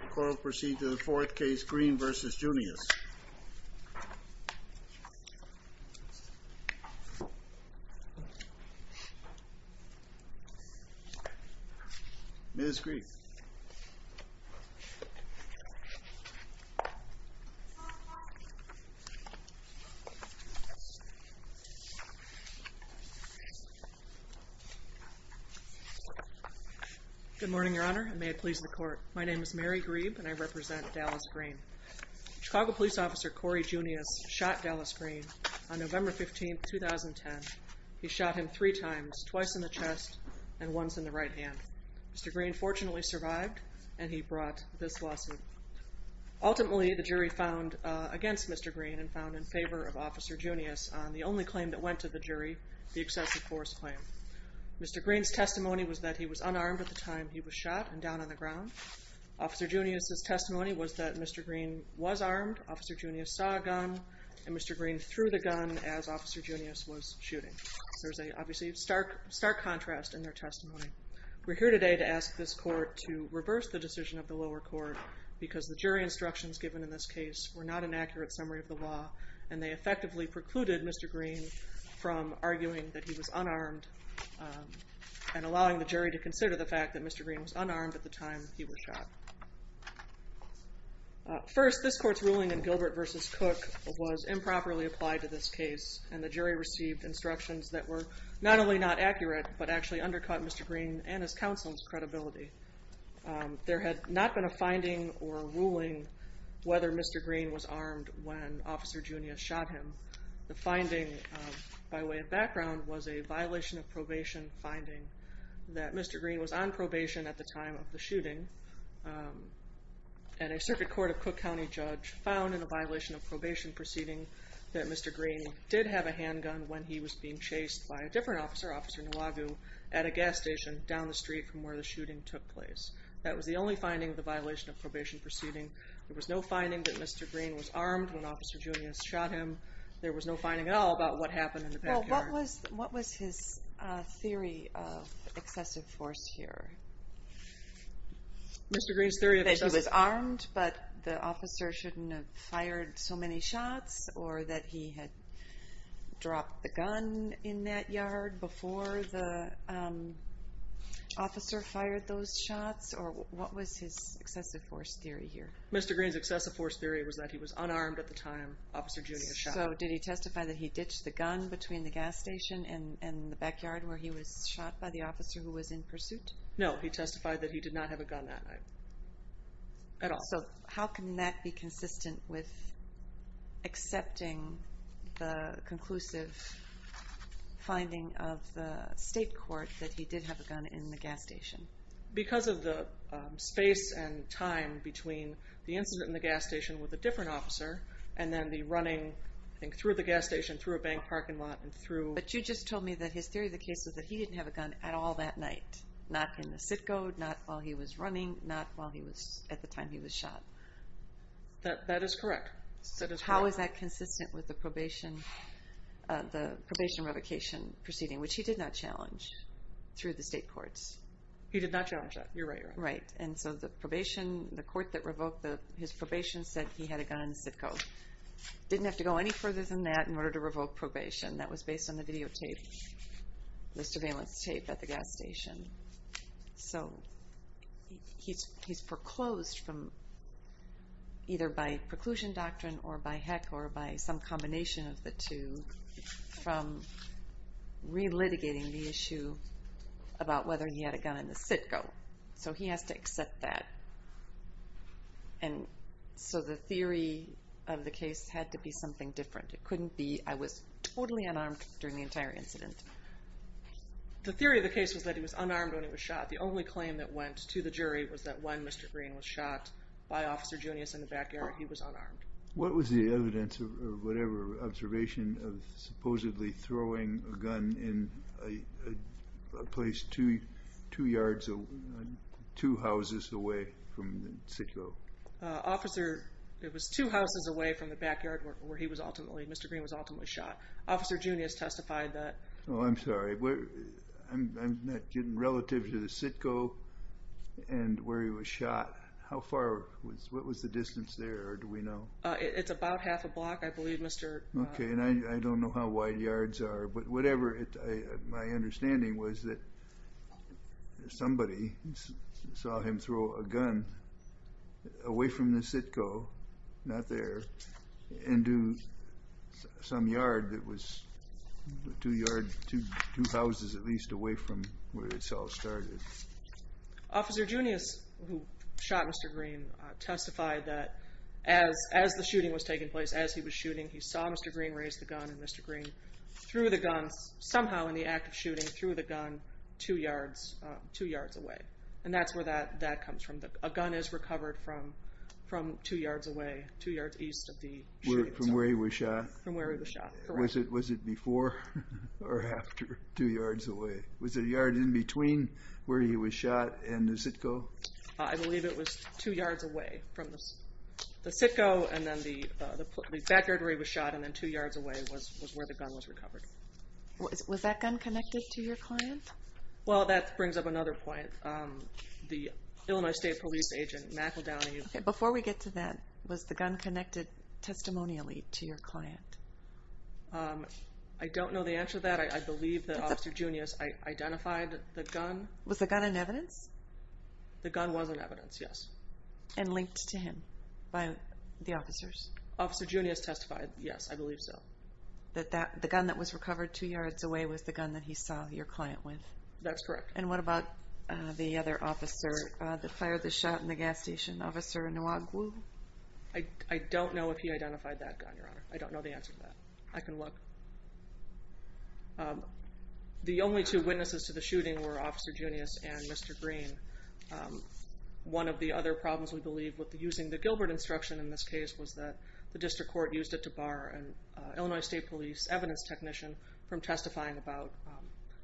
The court will proceed to the fourth case, Green v. Junious. Ms. Green. Good morning, Your Honor. And may it please the court. My name is Mary Grebe and I represent Dallas Green. Chicago Police Officer Cory Junious shot Dallas Green on November 15, 2010. He shot him three times, twice in the chest and once in the right hand. Mr. Green fortunately survived and he brought this lawsuit. Ultimately, the jury found against Mr. Green and found in favor of Officer Junious on the only claim that went to the jury, the excessive force claim. Mr. Green's testimony was that he was unarmed at the time he was shot and down on the ground. Officer Junious' testimony was that Mr. Green was armed, Officer Junious saw a gun, and Mr. Green threw the gun as Officer Junious was shooting. There's obviously a stark contrast in their testimony. We're here today to ask this court to reverse the decision of the lower court because the jury instructions given in this case were not an accurate summary of the law and they effectively precluded Mr. Green from arguing that he was unarmed and allowing the jury to consider the fact that Mr. Green was unarmed at the time he was shot. First, this court's ruling in Gilbert v. Cook was improperly applied to this case and the jury received instructions that were not only not accurate but actually undercut Mr. Green and his counsel's credibility. There had not been a finding or a ruling whether Mr. Green was armed when Officer Junious shot him. The finding, by way of background, was a violation of probation finding that Mr. Green was on probation at the time of the shooting and a circuit court of Cook County judge found in a violation of probation proceeding that Mr. Green did have a handgun when he was being chased by a different officer, Officer Nwagu, at a gas station down the street from where the shooting took place. That was the only finding of the violation of probation proceeding. There was no finding that Mr. Green was armed when Officer Junious shot him. There was no finding at all about what happened in the backyard. Well, what was his theory of excessive force here? Mr. Green's theory of excessive force? He was armed but the officer shouldn't have fired so many shots or that he had dropped the gun in that yard before the officer fired those shots or what was his excessive force theory here? Mr. Green's excessive force theory was that he was unarmed at the time Officer Junious shot him. So did he testify that he ditched the gun between the gas station and the backyard No, he testified that he did not have a gun that night at all. So how can that be consistent with accepting the conclusive finding of the state court that he did have a gun in the gas station? Because of the space and time between the incident in the gas station with a different officer and then the running through the gas station, through a bank parking lot and through... But you just told me that his theory of the case was that he didn't have a gun at all that night. Not in the CITCO, not while he was running, not at the time he was shot. That is correct. So how is that consistent with the probation revocation proceeding which he did not challenge through the state courts? He did not challenge that, you're right. Right, and so the court that revoked his probation said he had a gun in the CITCO. He didn't have to go any further than that in order to revoke probation. That was based on the videotape, the surveillance tape at the gas station. So he's foreclosed from either by preclusion doctrine or by heck or by some combination of the two from relitigating the issue about whether he had a gun in the CITCO. So he has to accept that. And so the theory of the case had to be something different. It couldn't be I was totally unarmed during the entire incident. The theory of the case was that he was unarmed when he was shot. The only claim that went to the jury was that when Mr. Green was shot by Officer Junius in the backyard, he was unarmed. What was the evidence or whatever observation of supposedly throwing a gun in a place two yards, two houses away from the CITCO? Officer, it was two houses away from the backyard where he was ultimately, Mr. Green was ultimately shot. Officer Junius testified that. Oh, I'm sorry. I'm not getting relative to the CITCO and where he was shot. How far was, what was the distance there, or do we know? It's about half a block, I believe, Mr. Okay. And I don't know how wide yards are. But whatever my understanding was that somebody saw him throw a gun away from the CITCO, not there, into some yard that was two yards, two houses at least, away from where it all started. Officer Junius, who shot Mr. Green, testified that as the shooting was taking place, as he was shooting, he saw Mr. Green raise the gun, and Mr. Green threw the gun, somehow in the act of shooting, threw the gun two yards away. And that's where that comes from. A gun is recovered from two yards away, two yards east of the shooting site. From where he was shot? From where he was shot, correct. Was it before or after two yards away? Was it a yard in between where he was shot and the CITCO? I believe it was two yards away from the CITCO, and then the backyard where he was shot, and then two yards away was where the gun was recovered. Was that gun connected to your client? Well, that brings up another point. The Illinois State Police agent, McEldowney. Okay. Before we get to that, was the gun connected testimonially to your client? I don't know the answer to that. I believe that Officer Junius identified the gun. Was the gun in evidence? The gun was in evidence, yes. And linked to him by the officers? Officer Junius testified, yes, I believe so. The gun that was recovered two yards away was the gun that he saw your client with? That's correct. And what about the other officer that fired the shot in the gas station, Officer Nwagwu? I don't know if he identified that gun, Your Honor. I don't know the answer to that. I can look. The only two witnesses to the shooting were Officer Junius and Mr. Green. One of the other problems, we believe, with using the Gilbert instruction in this case was that the district court used it to bar an Illinois State Police evidence technician from testifying about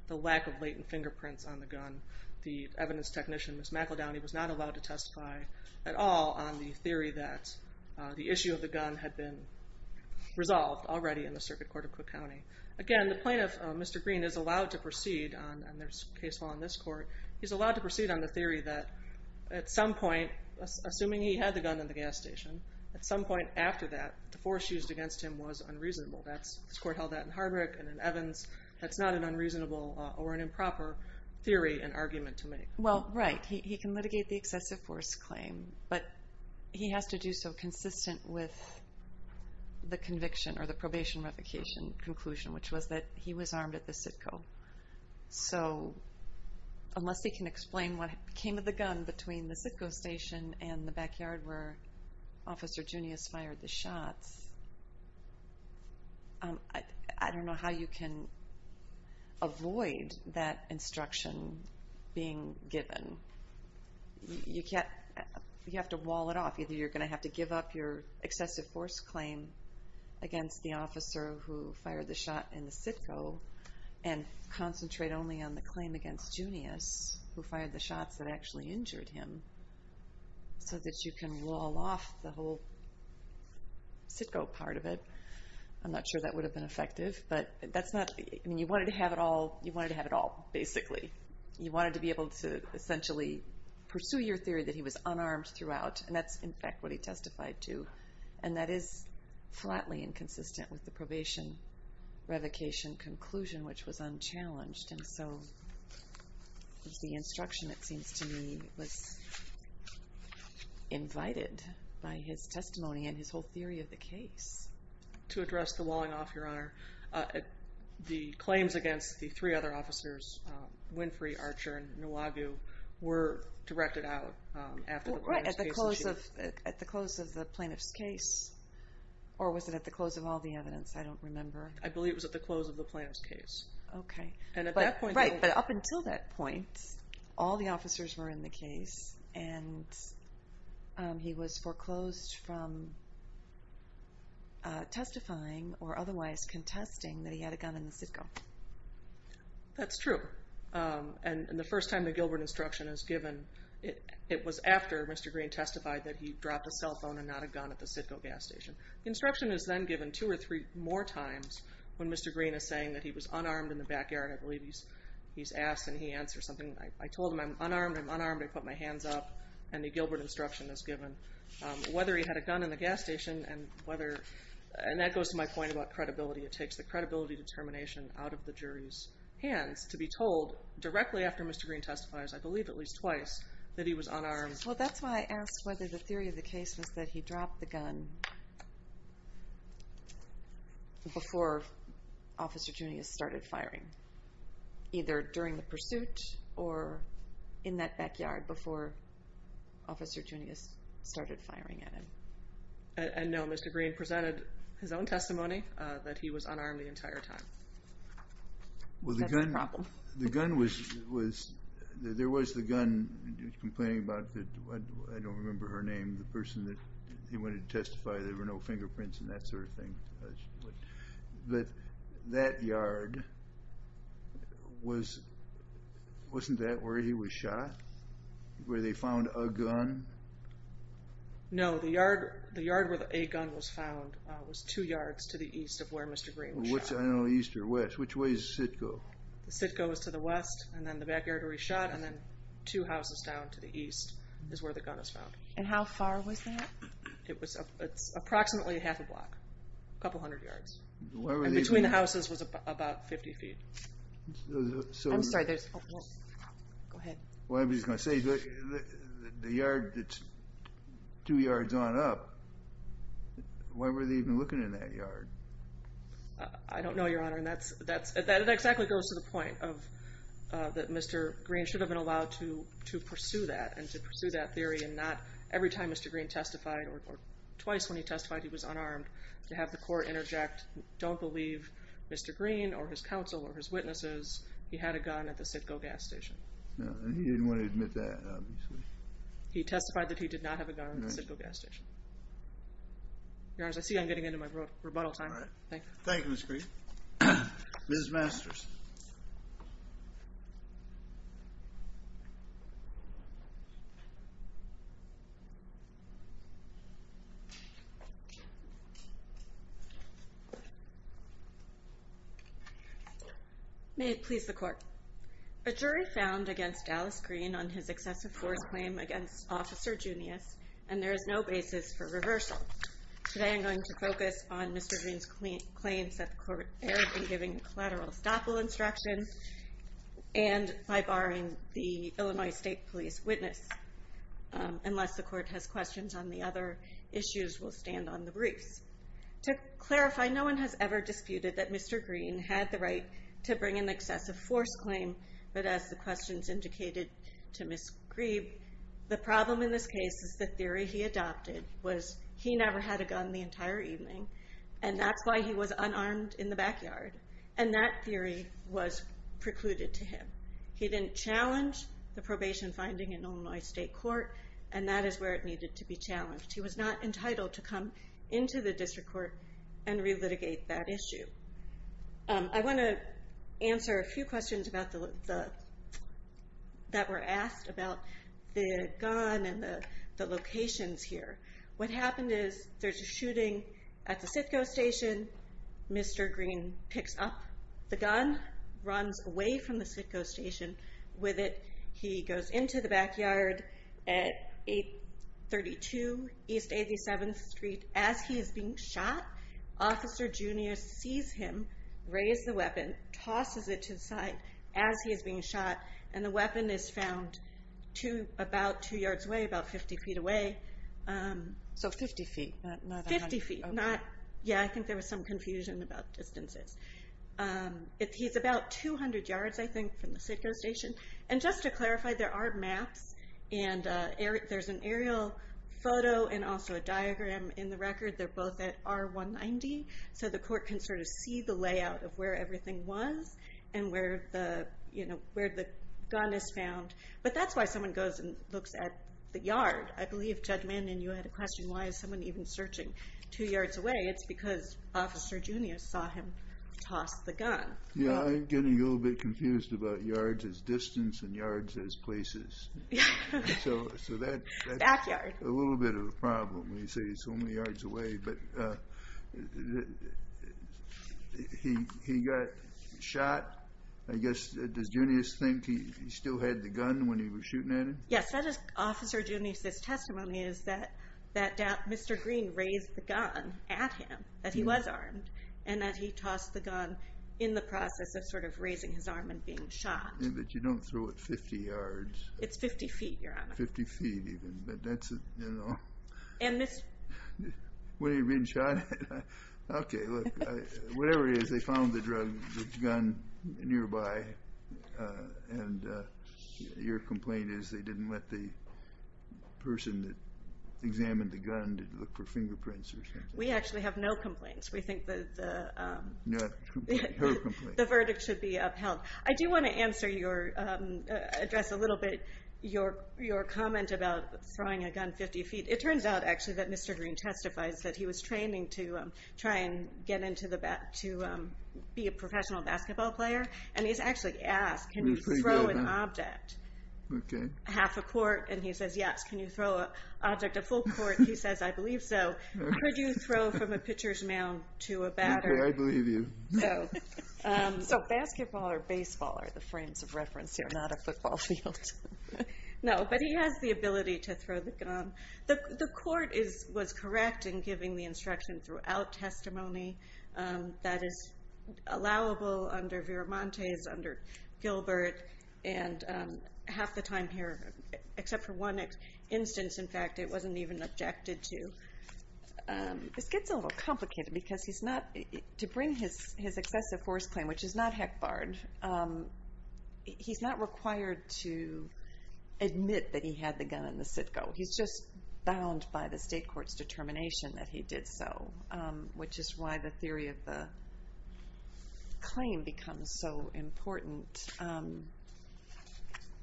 the lack of latent fingerprints on the gun. The evidence technician, Ms. McEldowney, was not allowed to testify at all on the theory that the issue of the gun had been resolved already in the Circuit Court of Cook County. Again, the plaintiff, Mr. Green, is allowed to proceed, and there's case law in this court, he's allowed to proceed on the theory that at some point, assuming he had the gun in the gas station, at some point after that, the force used against him was unreasonable. This court held that in Hardwick and in Evans. That's not an unreasonable or an improper theory and argument to make. Well, right. He can litigate the excessive force claim, but he has to do so consistent with the conviction or the probation revocation conclusion, which was that he was armed at the CITCO. So unless they can explain what came of the gun between the CITCO station and the backyard where Officer Junius fired the shots, I don't know how you can avoid that instruction being given. You have to wall it off. Either you're going to have to give up your excessive force claim against the officer who fired the shot in the CITCO and concentrate only on the claim against Junius, who fired the shots that actually injured him, so that you can wall off the whole CITCO part of it. I'm not sure that would have been effective. But you wanted to have it all, basically. You wanted to be able to essentially pursue your theory that he was unarmed throughout, and that's, in fact, what he testified to. And that is flatly inconsistent with the probation revocation conclusion, which was unchallenged. And so the instruction, it seems to me, was invited by his testimony and his whole theory of the case. To address the walling off, Your Honor, the claims against the three other officers, Winfrey, Archer, and Nuwagu, were directed out after the plaintiff's case. Right, at the close of the plaintiff's case, or was it at the close of all the evidence? I don't remember. I believe it was at the close of the plaintiff's case. Okay. And he was foreclosed from testifying or otherwise contesting that he had a gun in the CITCO. That's true. And the first time the Gilbert instruction is given, it was after Mr. Green testified that he dropped a cell phone and not a gun at the CITCO gas station. The instruction is then given two or three more times when Mr. Green is saying that he was unarmed in the backyard. I believe he's asked and he answered something. I told him I'm unarmed, I'm unarmed, I put my hands up, and the Gilbert instruction is given. Whether he had a gun in the gas station and whether, and that goes to my point about credibility. It takes the credibility determination out of the jury's hands to be told directly after Mr. Green testifies, I believe at least twice, that he was unarmed. Well, that's why I asked whether the theory of the case was that he dropped the gun before Officer Junius started firing, either during the pursuit or in that backyard before Officer Junius started firing at him. And no, Mr. Green presented his own testimony that he was unarmed the entire time. That's the problem. Well, the gun was, there was the gun, he was complaining about, I don't remember her name, the person that he wanted to testify, there were no fingerprints and that sort of thing. But that yard, wasn't that where he was shot, where they found a gun? No. The yard where a gun was found was two yards to the east of where Mr. Green was shot. I don't know east or west. Which way does the sit go? The sit goes to the west and then the backyard where he shot and then two houses down to the east is where the gun was found. And how far was that? It's approximately half a block, a couple hundred yards. And between the houses was about 50 feet. I'm sorry. Go ahead. I was just going to say, the yard that's two yards on up, why were they even looking in that yard? I don't know, Your Honor, and that exactly goes to the point that Mr. Green should have been allowed to pursue that and to pursue that theory and not every time Mr. Green testified or twice when he testified he was unarmed to have the court interject, don't believe Mr. Green or his counsel or his witnesses he had a gun at the sit go gas station. He didn't want to admit that, obviously. He testified that he did not have a gun at the sit go gas station. Your Honor, I see I'm getting into my rebuttal time. Thank you. Thank you, Ms. Green. Ms. Masters. May it please the court. A jury found against Dallas Green on his excessive force claim against Officer Junius and there is no basis for reversal. Today I'm going to focus on Mr. Green's claims that the court and by barring the Illinois State Police witness unless the court has questions on the other issues we'll stand on the briefs. To clarify, no one has ever disputed that Mr. Green had the right to bring an excessive force claim, but as the questions indicated to Ms. Green, the problem in this case is the theory he adopted was he never had a gun the entire evening and that's why he was unarmed in the backyard and that theory was precluded to him. He didn't challenge the probation finding in Illinois State Court and that is where it needed to be challenged. He was not entitled to come into the district court and relitigate that issue. I want to answer a few questions that were asked about the gun and the locations here. What happened is there's a shooting at the Sitco Station. Mr. Green picks up the gun, runs away from the Sitco Station with it. He goes into the backyard at 832 East 87th Street. As he is being shot, Officer Junius sees him raise the weapon, tosses it to the side as he is being shot, and the weapon is found about two yards away, about 50 feet away. So 50 feet. 50 feet. Yeah, I think there was some confusion about distances. He's about 200 yards, I think, from the Sitco Station. And just to clarify, there are maps and there's an aerial photo and also a diagram in the record. They're both at R190 so the court can sort of see the layout of where everything was and where the gun is found. But that's why someone goes and looks at the yard. I believe, Judge Mannion, you had a question, why is someone even searching two yards away? It's because Officer Junius saw him toss the gun. Yeah, I'm getting a little bit confused about yards as distance and yards as places. So that's a little bit of a problem when you say it's only yards away. But he got shot. I guess, does Junius think he still had the gun when he was shooting at him? Yes, Officer Junius' testimony is that Mr. Green raised the gun at him, that he was armed, and that he tossed the gun in the process of sort of raising his arm and being shot. Yeah, but you don't throw it 50 yards. It's 50 feet, Your Honor. 50 feet even, but that's, you know. And Mr. What, are you being shot at? Okay, look, whatever it is, they found the gun nearby, and your complaint is they didn't let the person that examined the gun to look for fingerprints or something. We actually have no complaints. We think that the Her complaint. The verdict should be upheld. I do want to answer your, address a little bit your comment about throwing a gun 50 feet. It turns out, actually, that Mr. Green testifies that he was training to try and get into the, to be a professional basketball player, and he's actually asked, can you throw an object? Okay. Half a court, and he says, yes. Can you throw an object, a full court? He says, I believe so. Could you throw from a pitcher's mound to a batter? Okay, I believe you. So basketball or baseball are the frames of reference here, not a football field. No, but he has the ability to throw the gun. The court was correct in giving the instruction throughout testimony that is allowable under Viramontes, under Gilbert, and half the time here, except for one instance, in fact, it wasn't even objected to. This gets a little complicated because he's not, to bring his excessive force claim, which is not HECBARD, he's not required to admit that he had the gun in the CITCO. He's just bound by the state court's determination that he did so, which is why the theory of the claim becomes so important.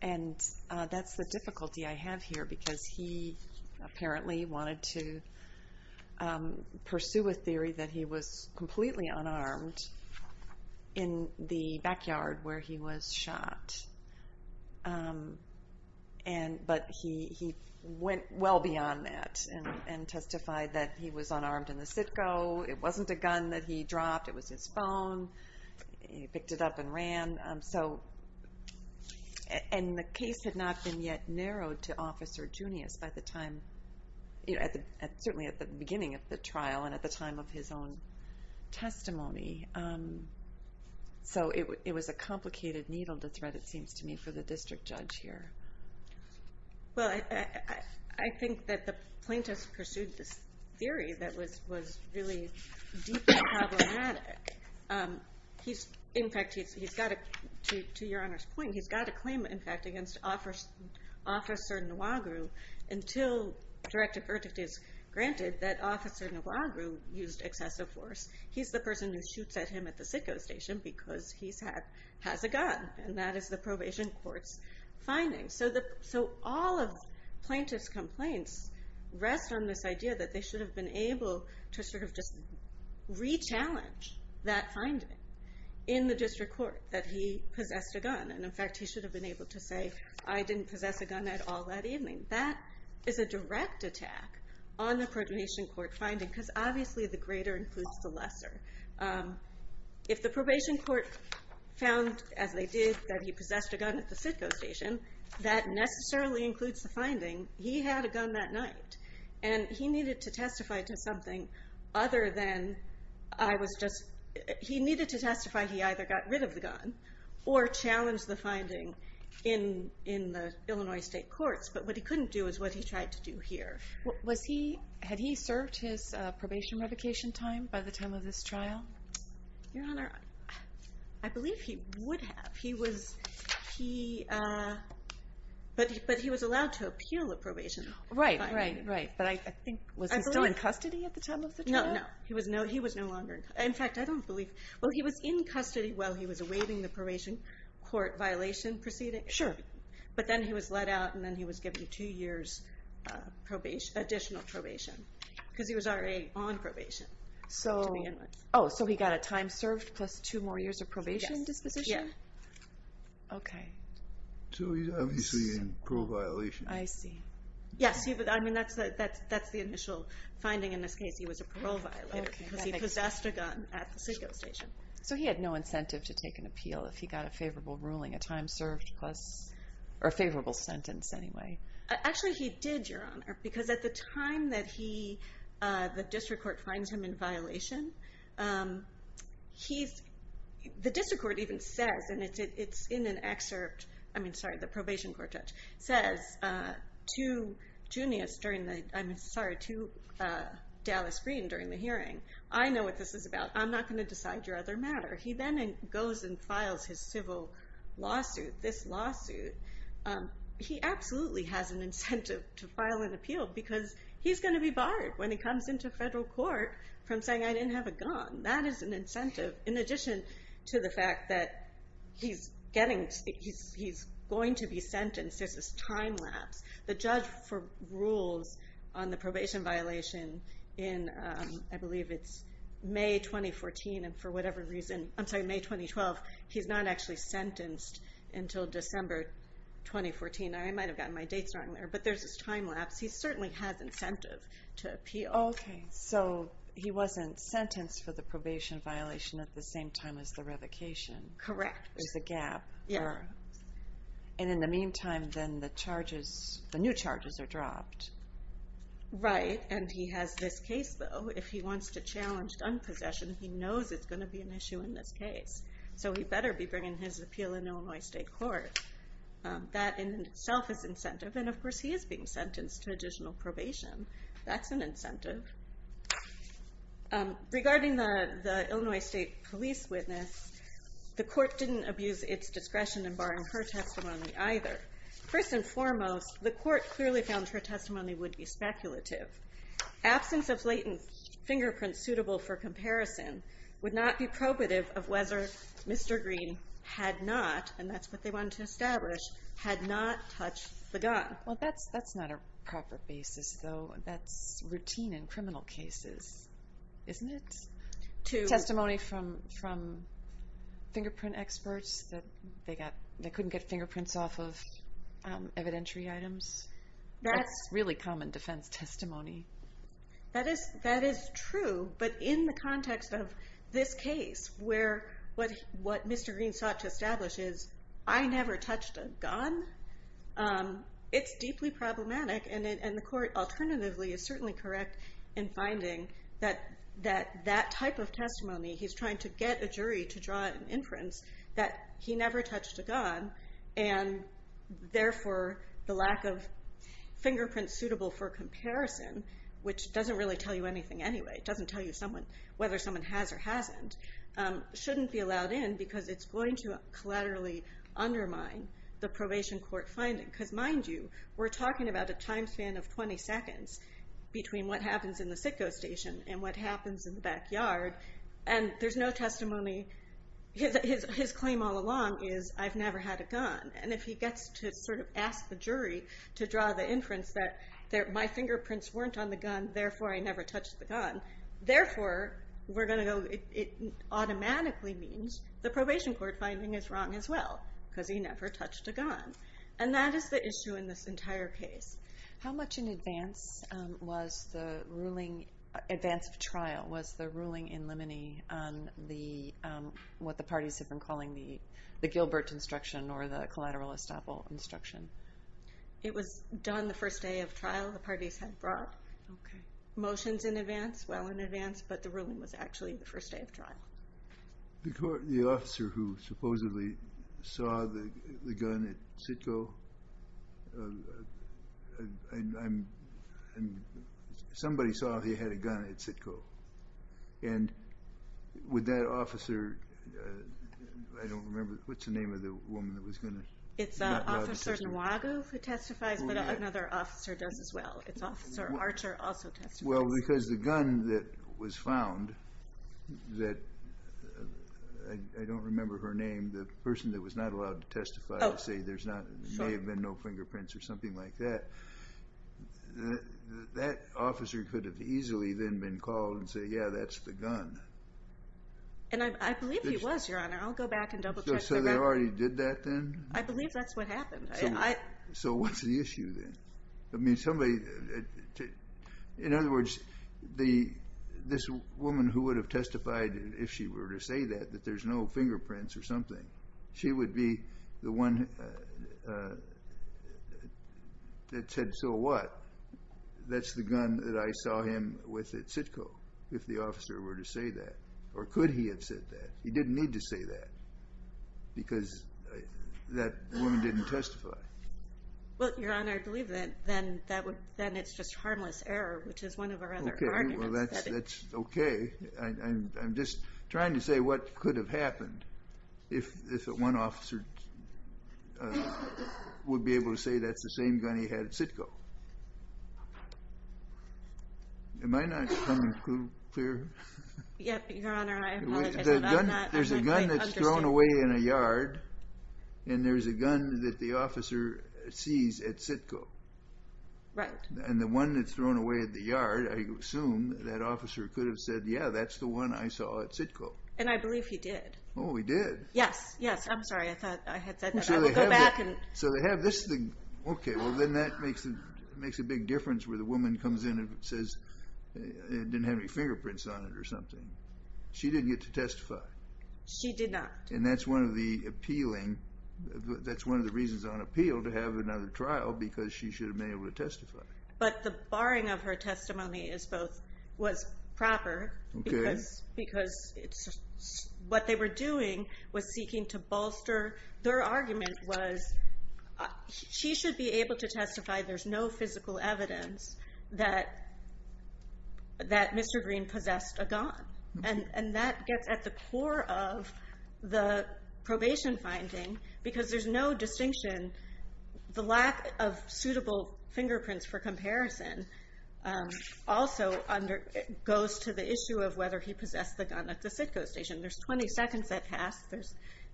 And that's the difficulty I have here because he apparently wanted to pursue a theory that he was completely unarmed in the backyard where he was shot. But he went well beyond that and testified that he was unarmed in the CITCO. It wasn't a gun that he dropped. It was his phone. He picked it up and ran. And the case had not been yet narrowed to Officer Junius by the time, certainly at the beginning of the trial and at the time of his own testimony. So it was a complicated needle to thread, it seems to me, for the district judge here. Well, I think that the plaintiff pursued this theory that was really deeply problematic. In fact, to Your Honor's point, he's got a claim, in fact, against Officer Nwagiru until directive verdict is granted that Officer Nwagiru used excessive force. He's the person who shoots at him at the CITCO station because he has a gun, and that is the probation court's finding. So all of plaintiff's complaints rest on this idea that they should have been able to sort of just re-challenge that finding in the district court that he possessed a gun. And, in fact, he should have been able to say, I didn't possess a gun at all that evening. That is a direct attack on the probation court finding because obviously the greater includes the lesser. If the probation court found, as they did, that he possessed a gun at the CITCO station, that necessarily includes the finding. He had a gun that night, and he needed to testify to something other than I was just he needed to testify he either got rid of the gun or challenged the finding in the Illinois state courts. But what he couldn't do is what he tried to do here. Had he served his probation revocation time by the time of this trial? Your Honor, I believe he would have. But he was allowed to appeal the probation finding. Right, right, right. But I think, was he still in custody at the time of the trial? No, no. He was no longer in custody. In fact, I don't believe. Well, he was in custody while he was awaiting the probation court violation proceeding. Sure. But then he was let out, and then he was given two years additional probation because he was already on probation. Oh, so he got a time served plus two more years of probation disposition? Yes. Okay. So he's obviously in parole violation. I see. Yes, I mean, that's the initial finding in this case. He was a parole violator because he possessed a gun at the CITCO station. So he had no incentive to take an appeal if he got a favorable ruling, a time served plus, or a favorable sentence anyway. Actually, he did, Your Honor, because at the time that the district court finds him in violation, the district court even says, and it's in an excerpt, I mean, sorry, the probation court judge says to Dallas Green during the hearing, I know what this is about. I'm not going to decide your other matter. He then goes and files his civil lawsuit, this lawsuit. He absolutely has an incentive to file an appeal because he's going to be barred when he comes into federal court from saying, I didn't have a gun. That is an incentive in addition to the fact that he's going to be sentenced. There's this time lapse. The judge rules on the probation violation in, I believe it's May 2014, and for whatever reason, I'm sorry, May 2012, he's not actually sentenced until December 2014. I might have gotten my dates wrong there, but there's this time lapse. He certainly has incentive to appeal. Okay, so he wasn't sentenced for the probation violation at the same time as the revocation. Correct. There's a gap. Yeah. And in the meantime, then the charges, the new charges are dropped. Right, and he has this case, though. If he wants to challenge gun possession, he knows it's going to be an issue in this case, so he better be bringing his appeal in Illinois State Court. That in itself is incentive, and, of course, he is being sentenced to additional probation. That's an incentive. Regarding the Illinois State police witness, the court didn't abuse its discretion in barring her testimony either. First and foremost, the court clearly found her testimony would be speculative. Absence of latent fingerprints suitable for comparison would not be probative of whether Mr. Green had not, and that's what they wanted to establish, had not touched the gun. Well, that's not a proper basis, though. That's routine in criminal cases, isn't it? Testimony from fingerprint experts that they couldn't get fingerprints off of evidentiary items? That's really common defense testimony. That is true, but in the context of this case, where what Mr. Green sought to establish is, I never touched a gun, it's deeply problematic, and the court, alternatively, is certainly correct in finding that that type of testimony, he's trying to get a jury to draw an inference, that he never touched a gun, and therefore the lack of fingerprints suitable for comparison, which doesn't really tell you anything anyway, it doesn't tell you whether someone has or hasn't, shouldn't be allowed in because it's going to collaterally undermine the probation court finding. Because, mind you, we're talking about a time span of 20 seconds between what happens in the sitco station and what happens in the backyard, and there's no testimony. His claim all along is, I've never had a gun, and if he gets to ask the jury to draw the inference that my fingerprints weren't on the gun, therefore I never touched the gun, therefore we're going to go, it automatically means the probation court finding is wrong as well, because he never touched a gun. And that is the issue in this entire case. How much in advance was the ruling, advance of trial, was the ruling in limine on what the parties have been calling the Gilbert instruction or the collateral estoppel instruction? It was done the first day of trial the parties had brought. Okay. Motions in advance, well in advance, but the ruling was actually the first day of trial. The officer who supposedly saw the gun at sitco, and somebody saw he had a gun at sitco, and would that officer, I don't remember, what's the name of the woman that was going to... It's Officer Nwago who testifies, but another officer does as well. It's Officer Archer also testifies. Well, because the gun that was found, that I don't remember her name, the person that was not allowed to testify to say there may have been no fingerprints or something like that, that officer could have easily then been called and said, yeah, that's the gun. And I believe he was, Your Honor. I'll go back and double-check. So they already did that then? I believe that's what happened. So what's the issue then? I mean, somebody... In other words, this woman who would have testified, if she were to say that, that there's no fingerprints or something, she would be the one that said, so what? That's the gun that I saw him with at sitco, if the officer were to say that. Or could he have said that? He didn't need to say that because that woman didn't testify. Well, Your Honor, I believe then it's just harmless error, which is one of our other arguments. Well, that's okay. I'm just trying to say what could have happened if one officer would be able to say that's the same gun he had at sitco. Am I not coming through clear? Yep, Your Honor. I apologize. There's a gun that's thrown away in a yard, and there's a gun that the officer sees at sitco. Right. And the one that's thrown away at the yard, I assume that officer could have said, yeah, that's the one I saw at sitco. And I believe he did. Oh, he did? Yes, yes. I'm sorry. I thought I had said that. So they have this thing. Okay. Well, then that makes a big difference where the woman comes in and says it didn't have any fingerprints on it or something. She didn't get to testify. She did not. And that's one of the appealing, that's one of the reasons on appeal to have another trial because she should have been able to testify. But the barring of her testimony was proper because what they were doing was seeking to bolster. Their argument was she should be able to testify there's no physical evidence that Mr. Green possessed a gun. And that gets at the core of the probation finding because there's no distinction. The lack of suitable fingerprints for comparison also goes to the issue of whether he possessed the gun at the sitco station. There's 20 seconds that pass,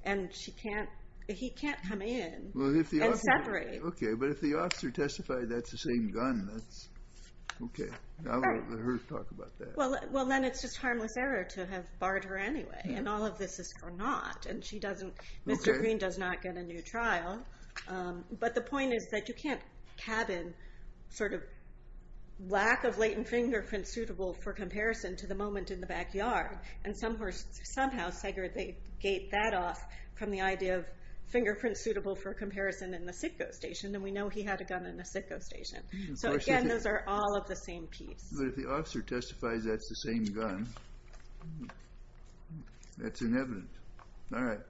and he can't come in and separate. Okay, but if the officer testified that's the same gun, that's okay. Now we'll let her talk about that. Well, then it's just harmless error to have barred her anyway, and all of this is for naught. And Mr. Green does not get a new trial. But the point is that you can't cabin sort of lack of latent fingerprints suitable for comparison to the moment in the backyard. And somehow, Sager, they gate that off from the idea of fingerprints suitable for comparison in the sitco station. And we know he had a gun in the sitco station. So again, those are all of the same piece. But if the officer testifies that's the same gun, that's inevitable. All right.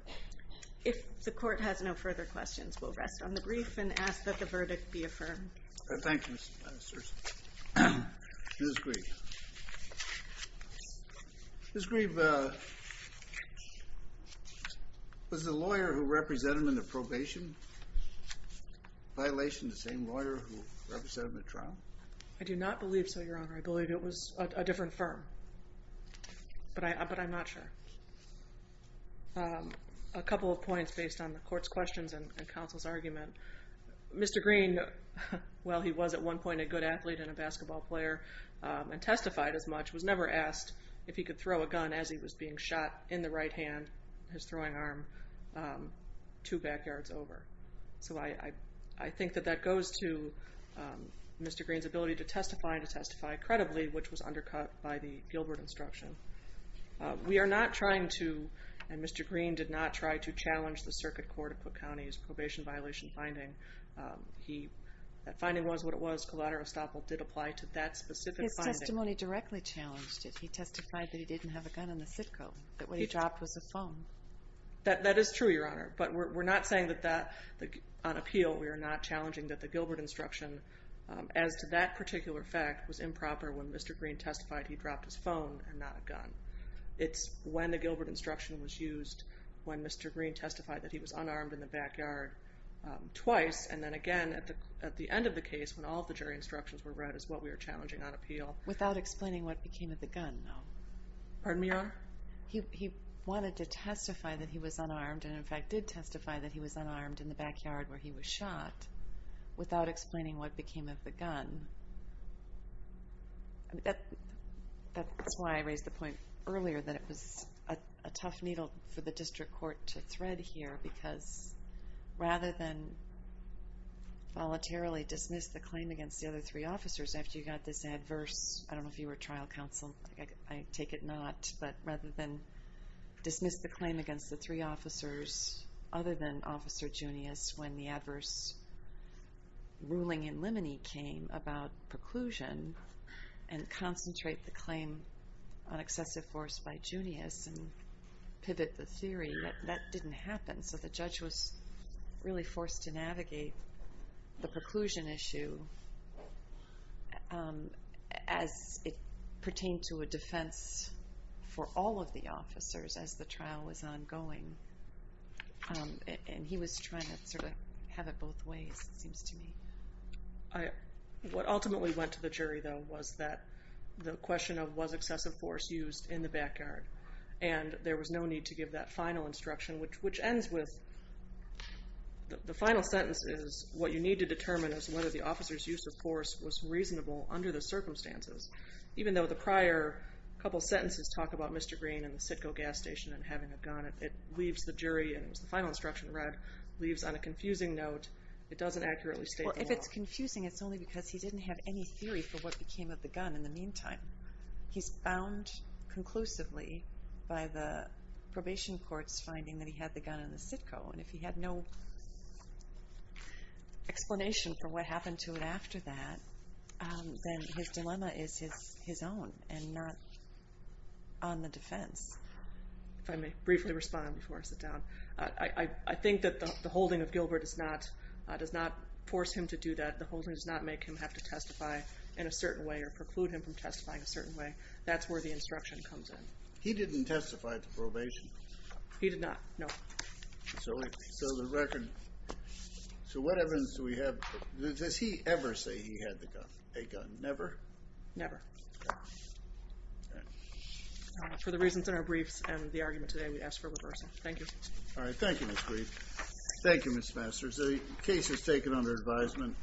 If the court has no further questions, we'll rest on the brief and ask that the verdict be affirmed. Thank you, Justice Gersen. Ms. Grieve. Ms. Grieve, was the lawyer who represented him in the probation a violation of the same lawyer who represented him in the trial? I do not believe so, Your Honor. I believe it was a different firm. But I'm not sure. A couple of points based on the court's questions and counsel's argument. Mr. Green, while he was at one point a good athlete and a basketball player and testified as much, was never asked if he could throw a gun as he was being shot in the right hand, his throwing arm, two backyards over. So I think that that goes to Mr. Green's ability to testify and trying to testify credibly, which was undercut by the Gilbert instruction. We are not trying to, and Mr. Green did not try to, challenge the circuit court of Cook County's probation violation finding. That finding was what it was. Collateral estoppel did apply to that specific finding. His testimony directly challenged it. He testified that he didn't have a gun in the CITCO, that what he dropped was a phone. That is true, Your Honor. But we're not saying that on appeal we are not challenging that the Gilbert instruction. As to that particular fact, it was improper when Mr. Green testified he dropped his phone and not a gun. It's when the Gilbert instruction was used, when Mr. Green testified that he was unarmed in the backyard twice, and then again at the end of the case when all of the jury instructions were read is what we are challenging on appeal. Without explaining what became of the gun, no? Pardon me, Your Honor? He wanted to testify that he was unarmed, and in fact did testify that he was unarmed in the backyard where he was shot, without explaining what became of the gun. That's why I raised the point earlier that it was a tough needle for the district court to thread here because rather than voluntarily dismiss the claim against the other three officers after you got this adverse, I don't know if you were trial counsel. I take it not. But rather than dismiss the claim against the three officers other than Officer Junius when the adverse ruling in limine came about preclusion and concentrate the claim on excessive force by Junius and pivot the theory that that didn't happen. So the judge was really forced to navigate the preclusion issue as it pertained to a defense for all of the officers as the trial was ongoing. And he was trying to sort of have it both ways, it seems to me. What ultimately went to the jury, though, was that the question of was excessive force used in the backyard. And there was no need to give that final instruction, which ends with the final sentence is what you need to determine is whether the officer's use of force was reasonable under the circumstances. Even though the prior couple sentences talk about Mr. Green and the Sitco gas station and having a gun, it leaves the jury, and it was the final instruction read, leaves on a confusing note. It doesn't accurately state the law. Well, if it's confusing, it's only because he didn't have any theory for what became of the gun in the meantime. He's bound conclusively by the probation court's finding that he had the gun in the Sitco. And if he had no explanation for what happened to it after that, then his dilemma is his own and not on the defense. If I may briefly respond before I sit down. I think that the holding of Gilbert does not force him to do that. The holding does not make him have to testify in a certain way or preclude him from testifying a certain way. That's where the instruction comes in. He didn't testify at the probation. He did not, no. So what evidence do we have? Does he ever say he had a gun? Never? Never. All right. For the reasons in our briefs and the argument today, we ask for a reversal. Thank you. All right. Thank you, Ms. Grief. Thank you, Ms. Masters. The case is taken under advisement.